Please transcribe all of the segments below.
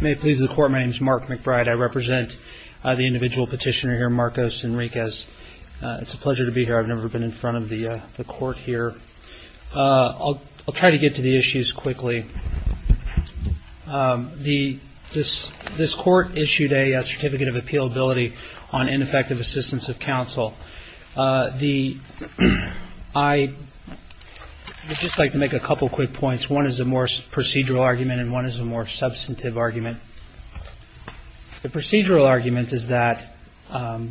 May it please the Court, my name is Mark McBride. I represent the individual petitioner here, Marcos Enriquez. It's a pleasure to be here. I've never been in front of the Court here. I'll try to get to the issues quickly. This Court issued a Certificate of Appealability on Ineffective Assistance of Counsel. I would just like to make a couple quick points. One is a more procedural argument and one is a more substantive argument. The procedural argument is that the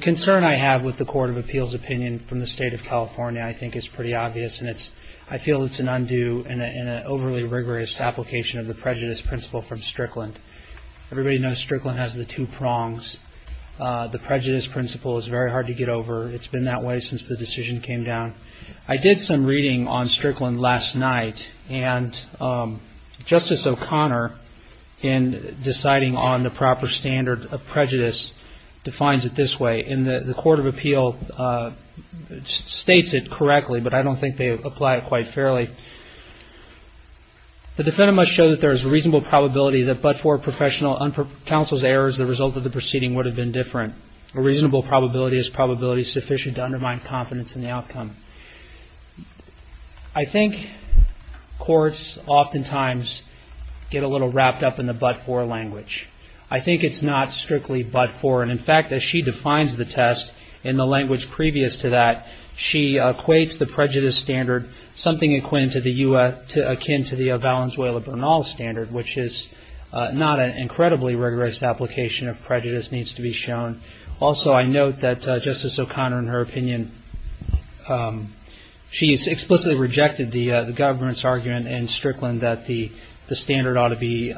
concern I have with the Court of Appeals opinion from the State of California, I think is pretty obvious and I feel it's an undue and an overly rigorous application of the prejudice principle from Strickland. Everybody knows Strickland has the two prongs. The prejudice principle is very hard to get over. It's been that way since the decision came down. I did some reading on Strickland last night and Justice O'Connor, in deciding on the proper standard of prejudice, defines it this way and the Court of Appeal states it correctly, but I don't think they apply it quite fairly. The defendant must show that there is a reasonable probability that but-for professional counsel's errors as a result of the proceeding would have been different. A reasonable probability is probability sufficient to undermine confidence in the outcome. I think courts oftentimes get a little wrapped up in the but-for language. I think it's not strictly but-for and, in fact, as she defines the test in the language previous to that, she equates the prejudice standard something akin to the Valenzuela-Bernal standard, which is not an incredibly rigorous application of prejudice, needs to be shown. Also, I note that Justice O'Connor, in her opinion, she has explicitly rejected the government's argument in Strickland that the standard ought to be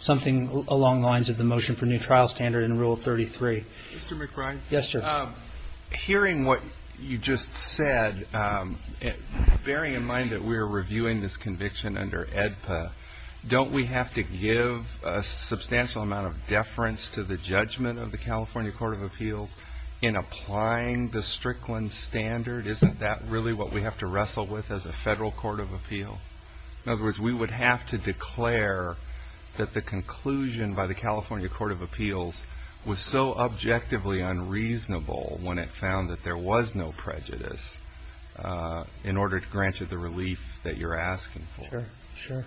something along the lines of the motion for a new trial standard in Rule 33. Mr. McBride? Yes, sir. Hearing what you just said, bearing in mind that we are reviewing this conviction under AEDPA, don't we have to give a substantial amount of deference to the judgment of the California Court of Appeals in applying the Strickland standard? Isn't that really what we have to wrestle with as a Federal Court of Appeal? In other words, we would have to declare that the conclusion by the California Court of Appeals was so objectively unreasonable when it found that there was no prejudice in order to grant you the relief that you're asking for. Sure, sure.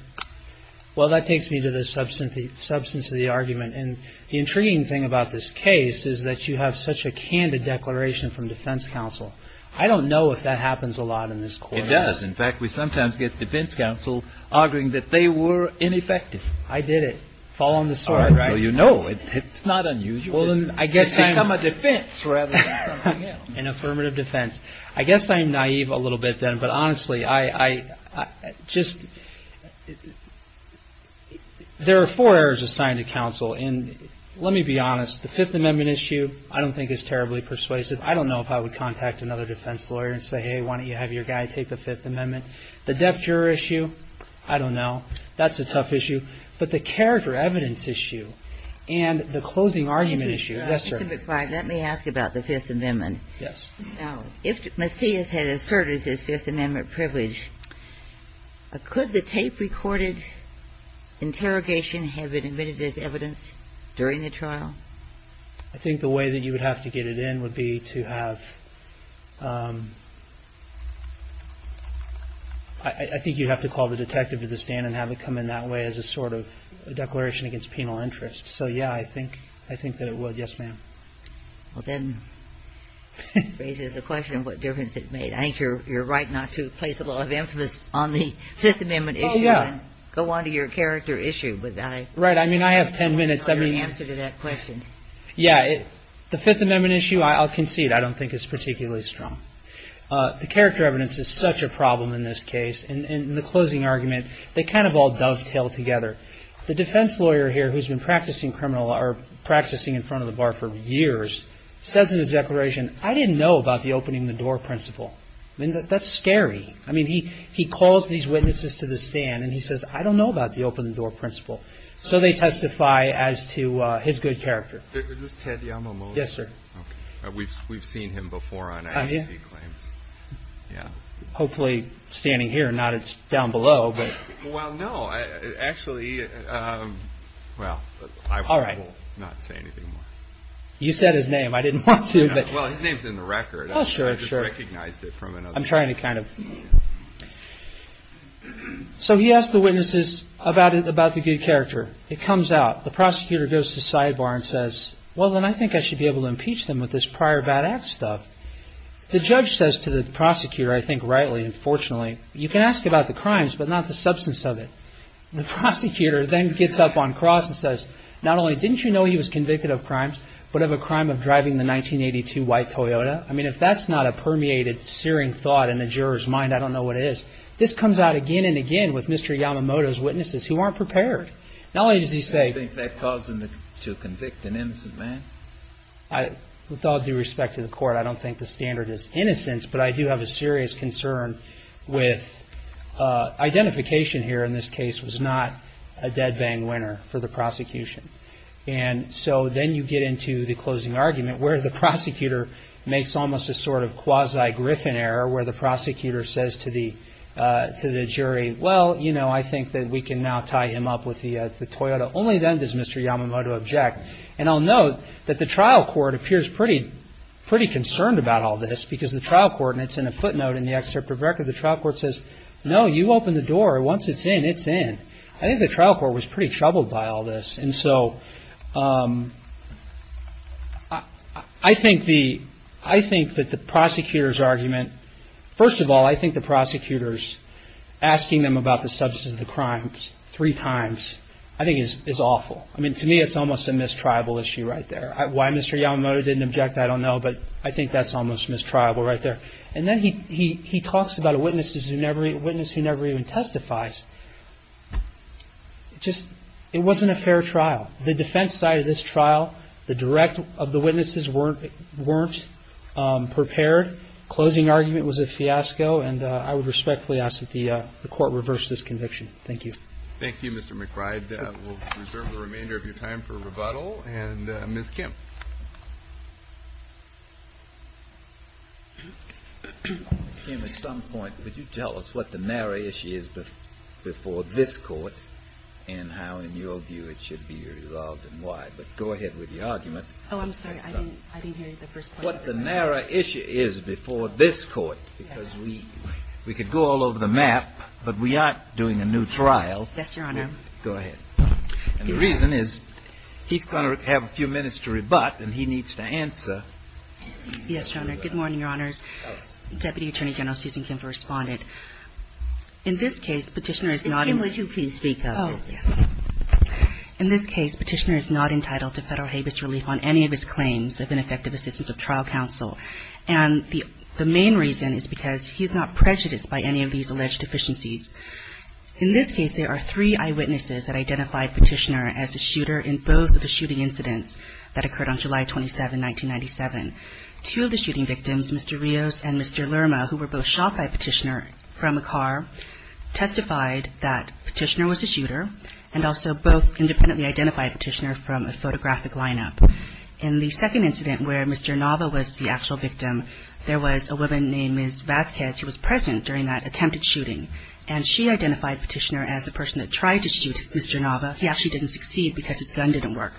Well, that takes me to the substance of the argument, and the intriguing thing about this case is that you have such a candid declaration from defense counsel. I don't know if that happens a lot in this court. It does. In fact, we sometimes get defense counsel arguing that they were ineffective. I did it. Fall on the sword. All right. So you know it's not unusual. It's become a defense rather than something else. An affirmative defense. I guess I'm naive a little bit then, but honestly, I just – there are four errors assigned to counsel, and let me be honest, the Fifth Amendment issue I don't think is terribly persuasive. I don't know if I would contact another defense lawyer and say, hey, why don't you have your guy take the Fifth Amendment. The deaf juror issue, I don't know. That's a tough issue. But the character evidence issue and the closing argument issue, yes, sir. Mr. McBride, let me ask about the Fifth Amendment. Yes. Now, if Macias had asserted his Fifth Amendment privilege, could the tape-recorded interrogation have been admitted as evidence during the trial? I think the way that you would have to get it in would be to have – I think you'd have to call the detective to the stand and have it come in that way as a sort of declaration against penal interest. So, yeah, I think that it would. Yes, ma'am. Well, that raises a question of what difference it made. I think you're right not to place a lot of emphasis on the Fifth Amendment issue and go on to your character issue. Right. I mean, I have ten minutes. Answer to that question. Yeah. The Fifth Amendment issue, I'll concede, I don't think is particularly strong. The character evidence is such a problem in this case, and the closing argument, they kind of all dovetail together. The defense lawyer here, who's been practicing in front of the bar for years, says in his declaration, I didn't know about the opening-the-door principle. I mean, that's scary. I mean, he calls these witnesses to the stand, and he says, I don't know about the opening-the-door principle. So they testify as to his good character. Is this Ted Yamamoto? Yes, sir. We've seen him before on advocacy claims. Yeah. Hopefully standing here, not down below. Well, no. Actually, well, I will not say anything more. You said his name. I didn't want to. Well, his name's in the record. Oh, sure, sure. I just recognized it from another. I'm trying to kind of. So he asks the witnesses about the good character. It comes out. The prosecutor goes to sidebar and says, well, then I think I should be able to impeach them with this prior bad act stuff. The judge says to the prosecutor, I think rightly and fortunately, you can ask about the crimes, but not the substance of it. The prosecutor then gets up on cross and says, not only didn't you know he was convicted of crimes, but of a crime of driving the 1982 white Toyota? I mean, if that's not a permeated, searing thought in the juror's mind, I don't know what it is. This comes out again and again with Mr. Yamamoto's witnesses who aren't prepared. Not only does he say. Do you think that caused him to convict an innocent man? With all due respect to the court, I don't think the standard is innocence, but I do have a serious concern with identification here in this case was not a dead bang winner for the prosecution. And so then you get into the closing argument where the prosecutor makes almost a sort of quasi Griffin error where the prosecutor says to the to the jury. Well, you know, I think that we can now tie him up with the Toyota. Only then does Mr. Yamamoto object. And I'll note that the trial court appears pretty, pretty concerned about all this because the trial court and it's in a footnote in the excerpt of record. The trial court says, no, you open the door. Once it's in, it's in. I think the trial court was pretty troubled by all this. And so I think the I think that the prosecutor's argument. First of all, I think the prosecutors asking them about the substance of the crimes three times I think is awful. I mean, to me, it's almost a mistribal issue right there. Why Mr. Yamamoto didn't object. I don't know, but I think that's almost mistribal right there. And then he he he talks about a witness who never a witness who never even testifies. Just it wasn't a fair trial. The defense side of this trial, the direct of the witnesses weren't weren't prepared. Closing argument was a fiasco. And I would respectfully ask that the court reverse this conviction. Thank you. Thank you, Mr. McBride. We'll reserve the remainder of your time for rebuttal. And Ms. Kemp. At some point, would you tell us what the narrow issue is before this court and how, in your view, it should be resolved and why? But go ahead with the argument. Oh, I'm sorry. I didn't hear the first part. What the narrow issue is before this court. Because we we could go all over the map, but we aren't doing a new trial. Yes, Your Honor. Go ahead. And the reason is he's going to have a few minutes to rebut, and he needs to answer. Yes, Your Honor. Good morning, Your Honors. Deputy Attorney General Susan Kemp, a respondent. In this case, Petitioner is not. Ms. Kemp, would you please speak up? Oh, yes. In this case, Petitioner is not entitled to federal habeas relief on any of his claims of ineffective assistance of trial counsel. And the the main reason is because he's not prejudiced by any of these alleged deficiencies. In this case, there are three eyewitnesses that identified Petitioner as the shooter in both of the shooting incidents that occurred on July 27, 1997. Two of the shooting victims, Mr. Rios and Mr. Lerma, who were both shot by Petitioner from a car, testified that Petitioner was the shooter, and also both independently identified Petitioner from a photographic lineup. In the second incident where Mr. Nava was the actual victim, there was a woman named Ms. Vasquez who was present during that attempted shooting, and she identified Petitioner as the person that tried to shoot Mr. Nava. He actually didn't succeed because his gun didn't work.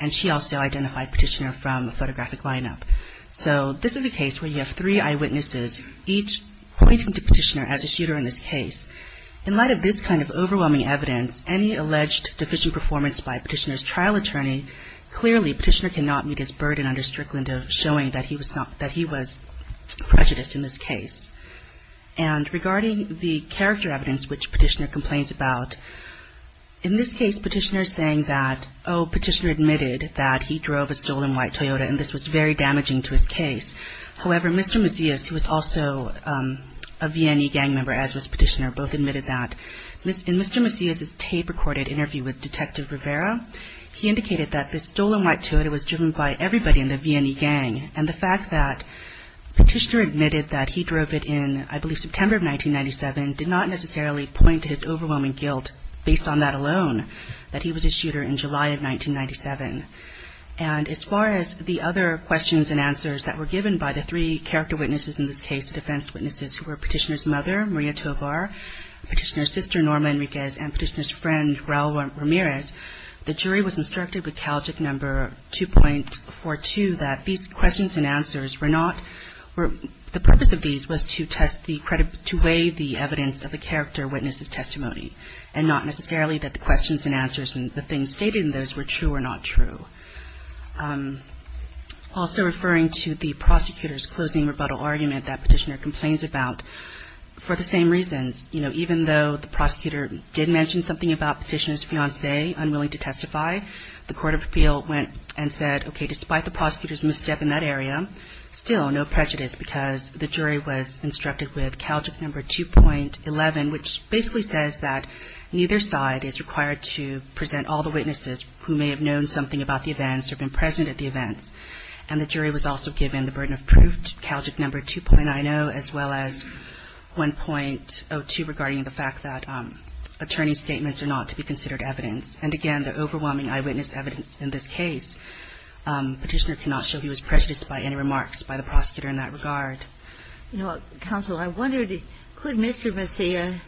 And she also identified Petitioner from a photographic lineup. So this is a case where you have three eyewitnesses, each pointing to Petitioner as a shooter in this case. In light of this kind of overwhelming evidence, any alleged deficient performance by Petitioner's trial attorney, clearly Petitioner cannot meet his burden under Strickland of showing that he was prejudiced in this case. And regarding the character evidence which Petitioner complains about, in this case, Petitioner is saying that, oh, Petitioner admitted that he drove a stolen white Toyota, and this was very damaging to his case. However, Mr. Macias, who was also a VNE gang member, as was Petitioner, both admitted that. In Mr. Macias's tape-recorded interview with Detective Rivera, he indicated that this stolen white Toyota was driven by everybody in the VNE gang, and the fact that Petitioner admitted that he drove it in, I believe, September of 1997, did not necessarily point to his overwhelming guilt, based on that alone, that he was a shooter in July of 1997. And as far as the other questions and answers that were given by the three character witnesses in this case, defense witnesses, who were Petitioner's mother, Maria Tovar, Petitioner's sister, Norma Enriquez, and Petitioner's friend, Raul Ramirez, the jury was instructed with Calgic No. 2.42 that these questions and answers were not, the purpose of these was to weigh the evidence of the character witness's testimony, and not necessarily that the questions and answers and the things stated in those were true or not true. Also referring to the prosecutor's closing rebuttal argument that Petitioner complains about, for the same reasons, you know, even though the prosecutor did mention something about Petitioner's fiancee unwilling to testify, the court of appeal went and said, okay, despite the prosecutor's misstep in that area, still no prejudice, because the jury was instructed with Calgic No. 2.11, which basically says that neither side is required to present all the witnesses who may have known something about the events or been present at the events. And the jury was also given the burden of proof, Calgic No. 2.90, as well as 1.02 regarding the fact that attorney's statements are not to be considered evidence. And again, the overwhelming eyewitness evidence in this case, Petitioner cannot show he was prejudiced by any remarks by the prosecutor in that regard. You know, Counsel, I wondered, could Mr. Messia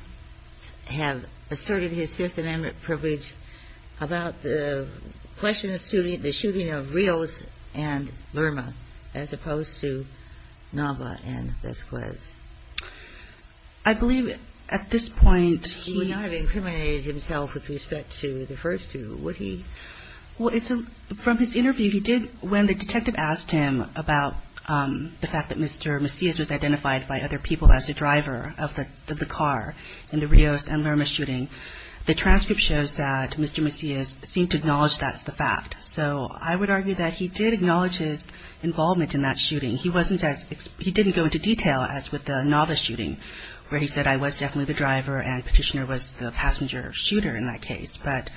have asserted his Fifth Amendment privilege about the question of the shooting of Rios and Verma, as opposed to Nava and Vesquez? I believe at this point he… He would not have incriminated himself with respect to the first two, would he? Well, from his interview, he did, when the detective asked him about the fact that Mr. Messias was identified by other people as the driver of the car in the Rios and Verma shooting, the transcript shows that Mr. Messias seemed to acknowledge that's the fact. So I would argue that he did acknowledge his involvement in that shooting. He didn't go into detail, as with the Nava shooting, where he said, I was definitely the driver and Petitioner was the passenger shooter in that case. But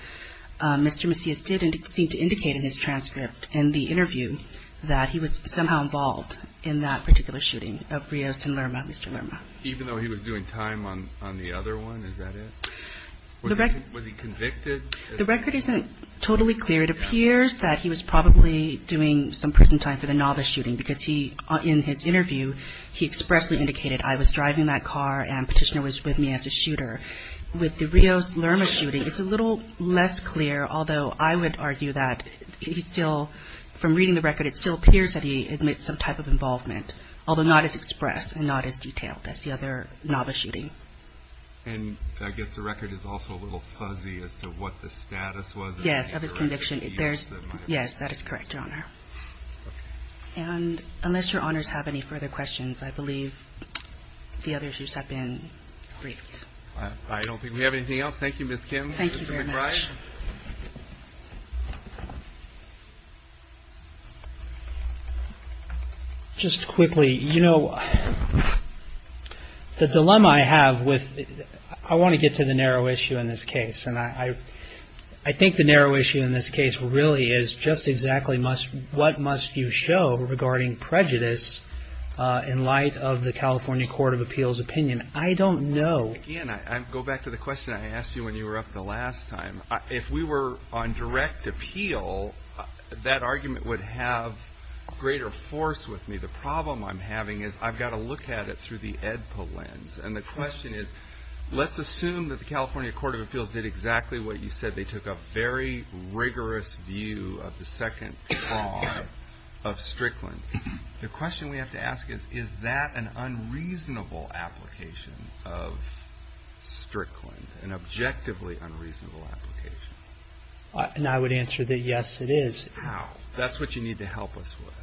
Mr. Messias did seem to indicate in his transcript in the interview that he was somehow involved in that particular shooting of Rios and Verma, Mr. Verma. Even though he was doing time on the other one? Is that it? Was he convicted? The record isn't totally clear. It appears that he was probably doing some prison time for the Nava shooting, because he, in his interview, he expressly indicated, I was driving that car and Petitioner was with me as a shooter. With the Rios and Verma shooting, it's a little less clear, although I would argue that he still, from reading the record, it still appears that he admits some type of involvement, although not as expressed and not as detailed as the other Nava shooting. And I guess the record is also a little fuzzy as to what the status was. Yes, of his conviction. Yes, that is correct, Your Honor. And unless Your Honors have any further questions, I believe the others have been briefed. I don't think we have anything else. Thank you, Ms. Kim. Thank you very much. Mr. McBride. Just quickly, you know, the dilemma I have with, I want to get to the narrow issue in this case, and I think the narrow issue in this case really is just exactly what must you show regarding prejudice in light of the California Court of Appeals opinion. I don't know. Again, I go back to the question I asked you when you were up the last time. If we were on direct appeal, that argument would have greater force with me. The problem I'm having is I've got to look at it through the EDPA lens. And the question is, let's assume that the California Court of Appeals did exactly what you said. They took a very rigorous view of the second fraud of Strickland. The question we have to ask is, is that an unreasonable application of Strickland, an objectively unreasonable application? And I would answer that, yes, it is. How? That's what you need to help us with.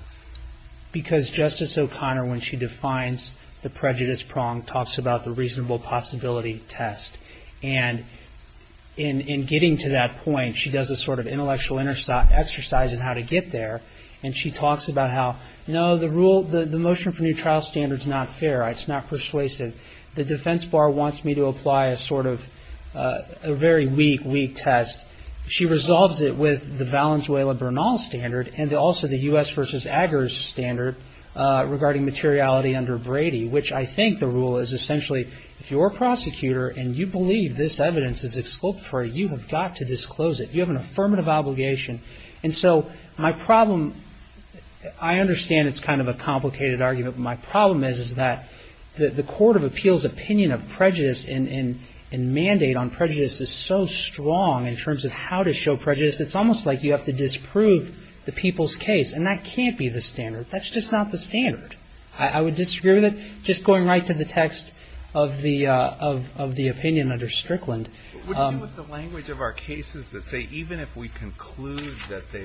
Because Justice O'Connor, when she defines the prejudice prong, talks about the reasonable possibility test. And in getting to that point, she does a sort of intellectual exercise in how to get there, and she talks about how, you know, the rule, the motion for new trial standard is not fair. It's not persuasive. The defense bar wants me to apply a sort of a very weak, weak test. She resolves it with the Valenzuela-Bernal standard and also the U.S. versus Aggers standard regarding materiality under Brady, which I think the rule is essentially, if you're a prosecutor and you believe this evidence is exculpatory, you have got to disclose it. You have an affirmative obligation. And so my problem, I understand it's kind of a complicated argument, but my problem is that the Court of Appeals opinion of prejudice and mandate on prejudice is so strong in terms of how to show prejudice, it's almost like you have to disprove the people's case. And that can't be the standard. That's just not the standard. I would disagree with it. Just going right to the text of the opinion under Strickland. It would be with the language of our cases that say even if we conclude that they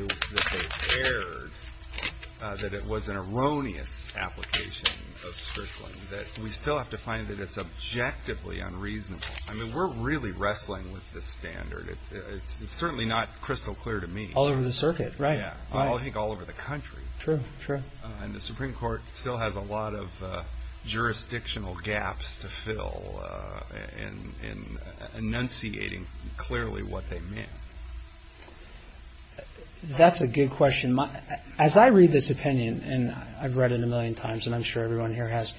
erred, that it was an erroneous application of Strickland, that we still have to find that it's objectively unreasonable. I mean we're really wrestling with this standard. It's certainly not crystal clear to me. All over the circuit, right. I think all over the country. True, true. And the Supreme Court still has a lot of jurisdictional gaps to fill in enunciating clearly what they meant. That's a good question. As I read this opinion, and I've read it a million times, and I'm sure everyone here has,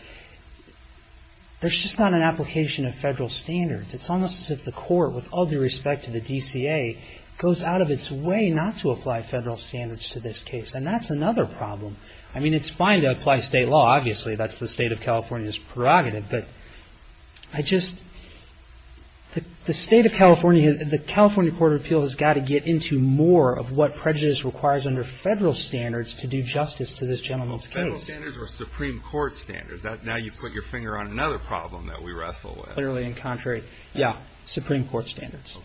there's just not an application of federal standards. It's almost as if the court, with all due respect to the DCA, goes out of its way not to apply federal standards to this case. And that's another problem. I mean it's fine to apply state law. Obviously that's the state of California's prerogative. But I just, the state of California, the California Court of Appeals has got to get into more of what prejudice requires under federal standards to do justice to this gentleman's case. Federal standards or Supreme Court standards. Now you put your finger on another problem that we wrestle with. Clearly and contrary. Supreme Court standards. Okay.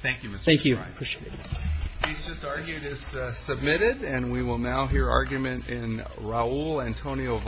Thank you, Mr. O'Brien. Thank you. I appreciate it. He's just argued as submitted, and we will now hear argument in Raul Antonio Vargas.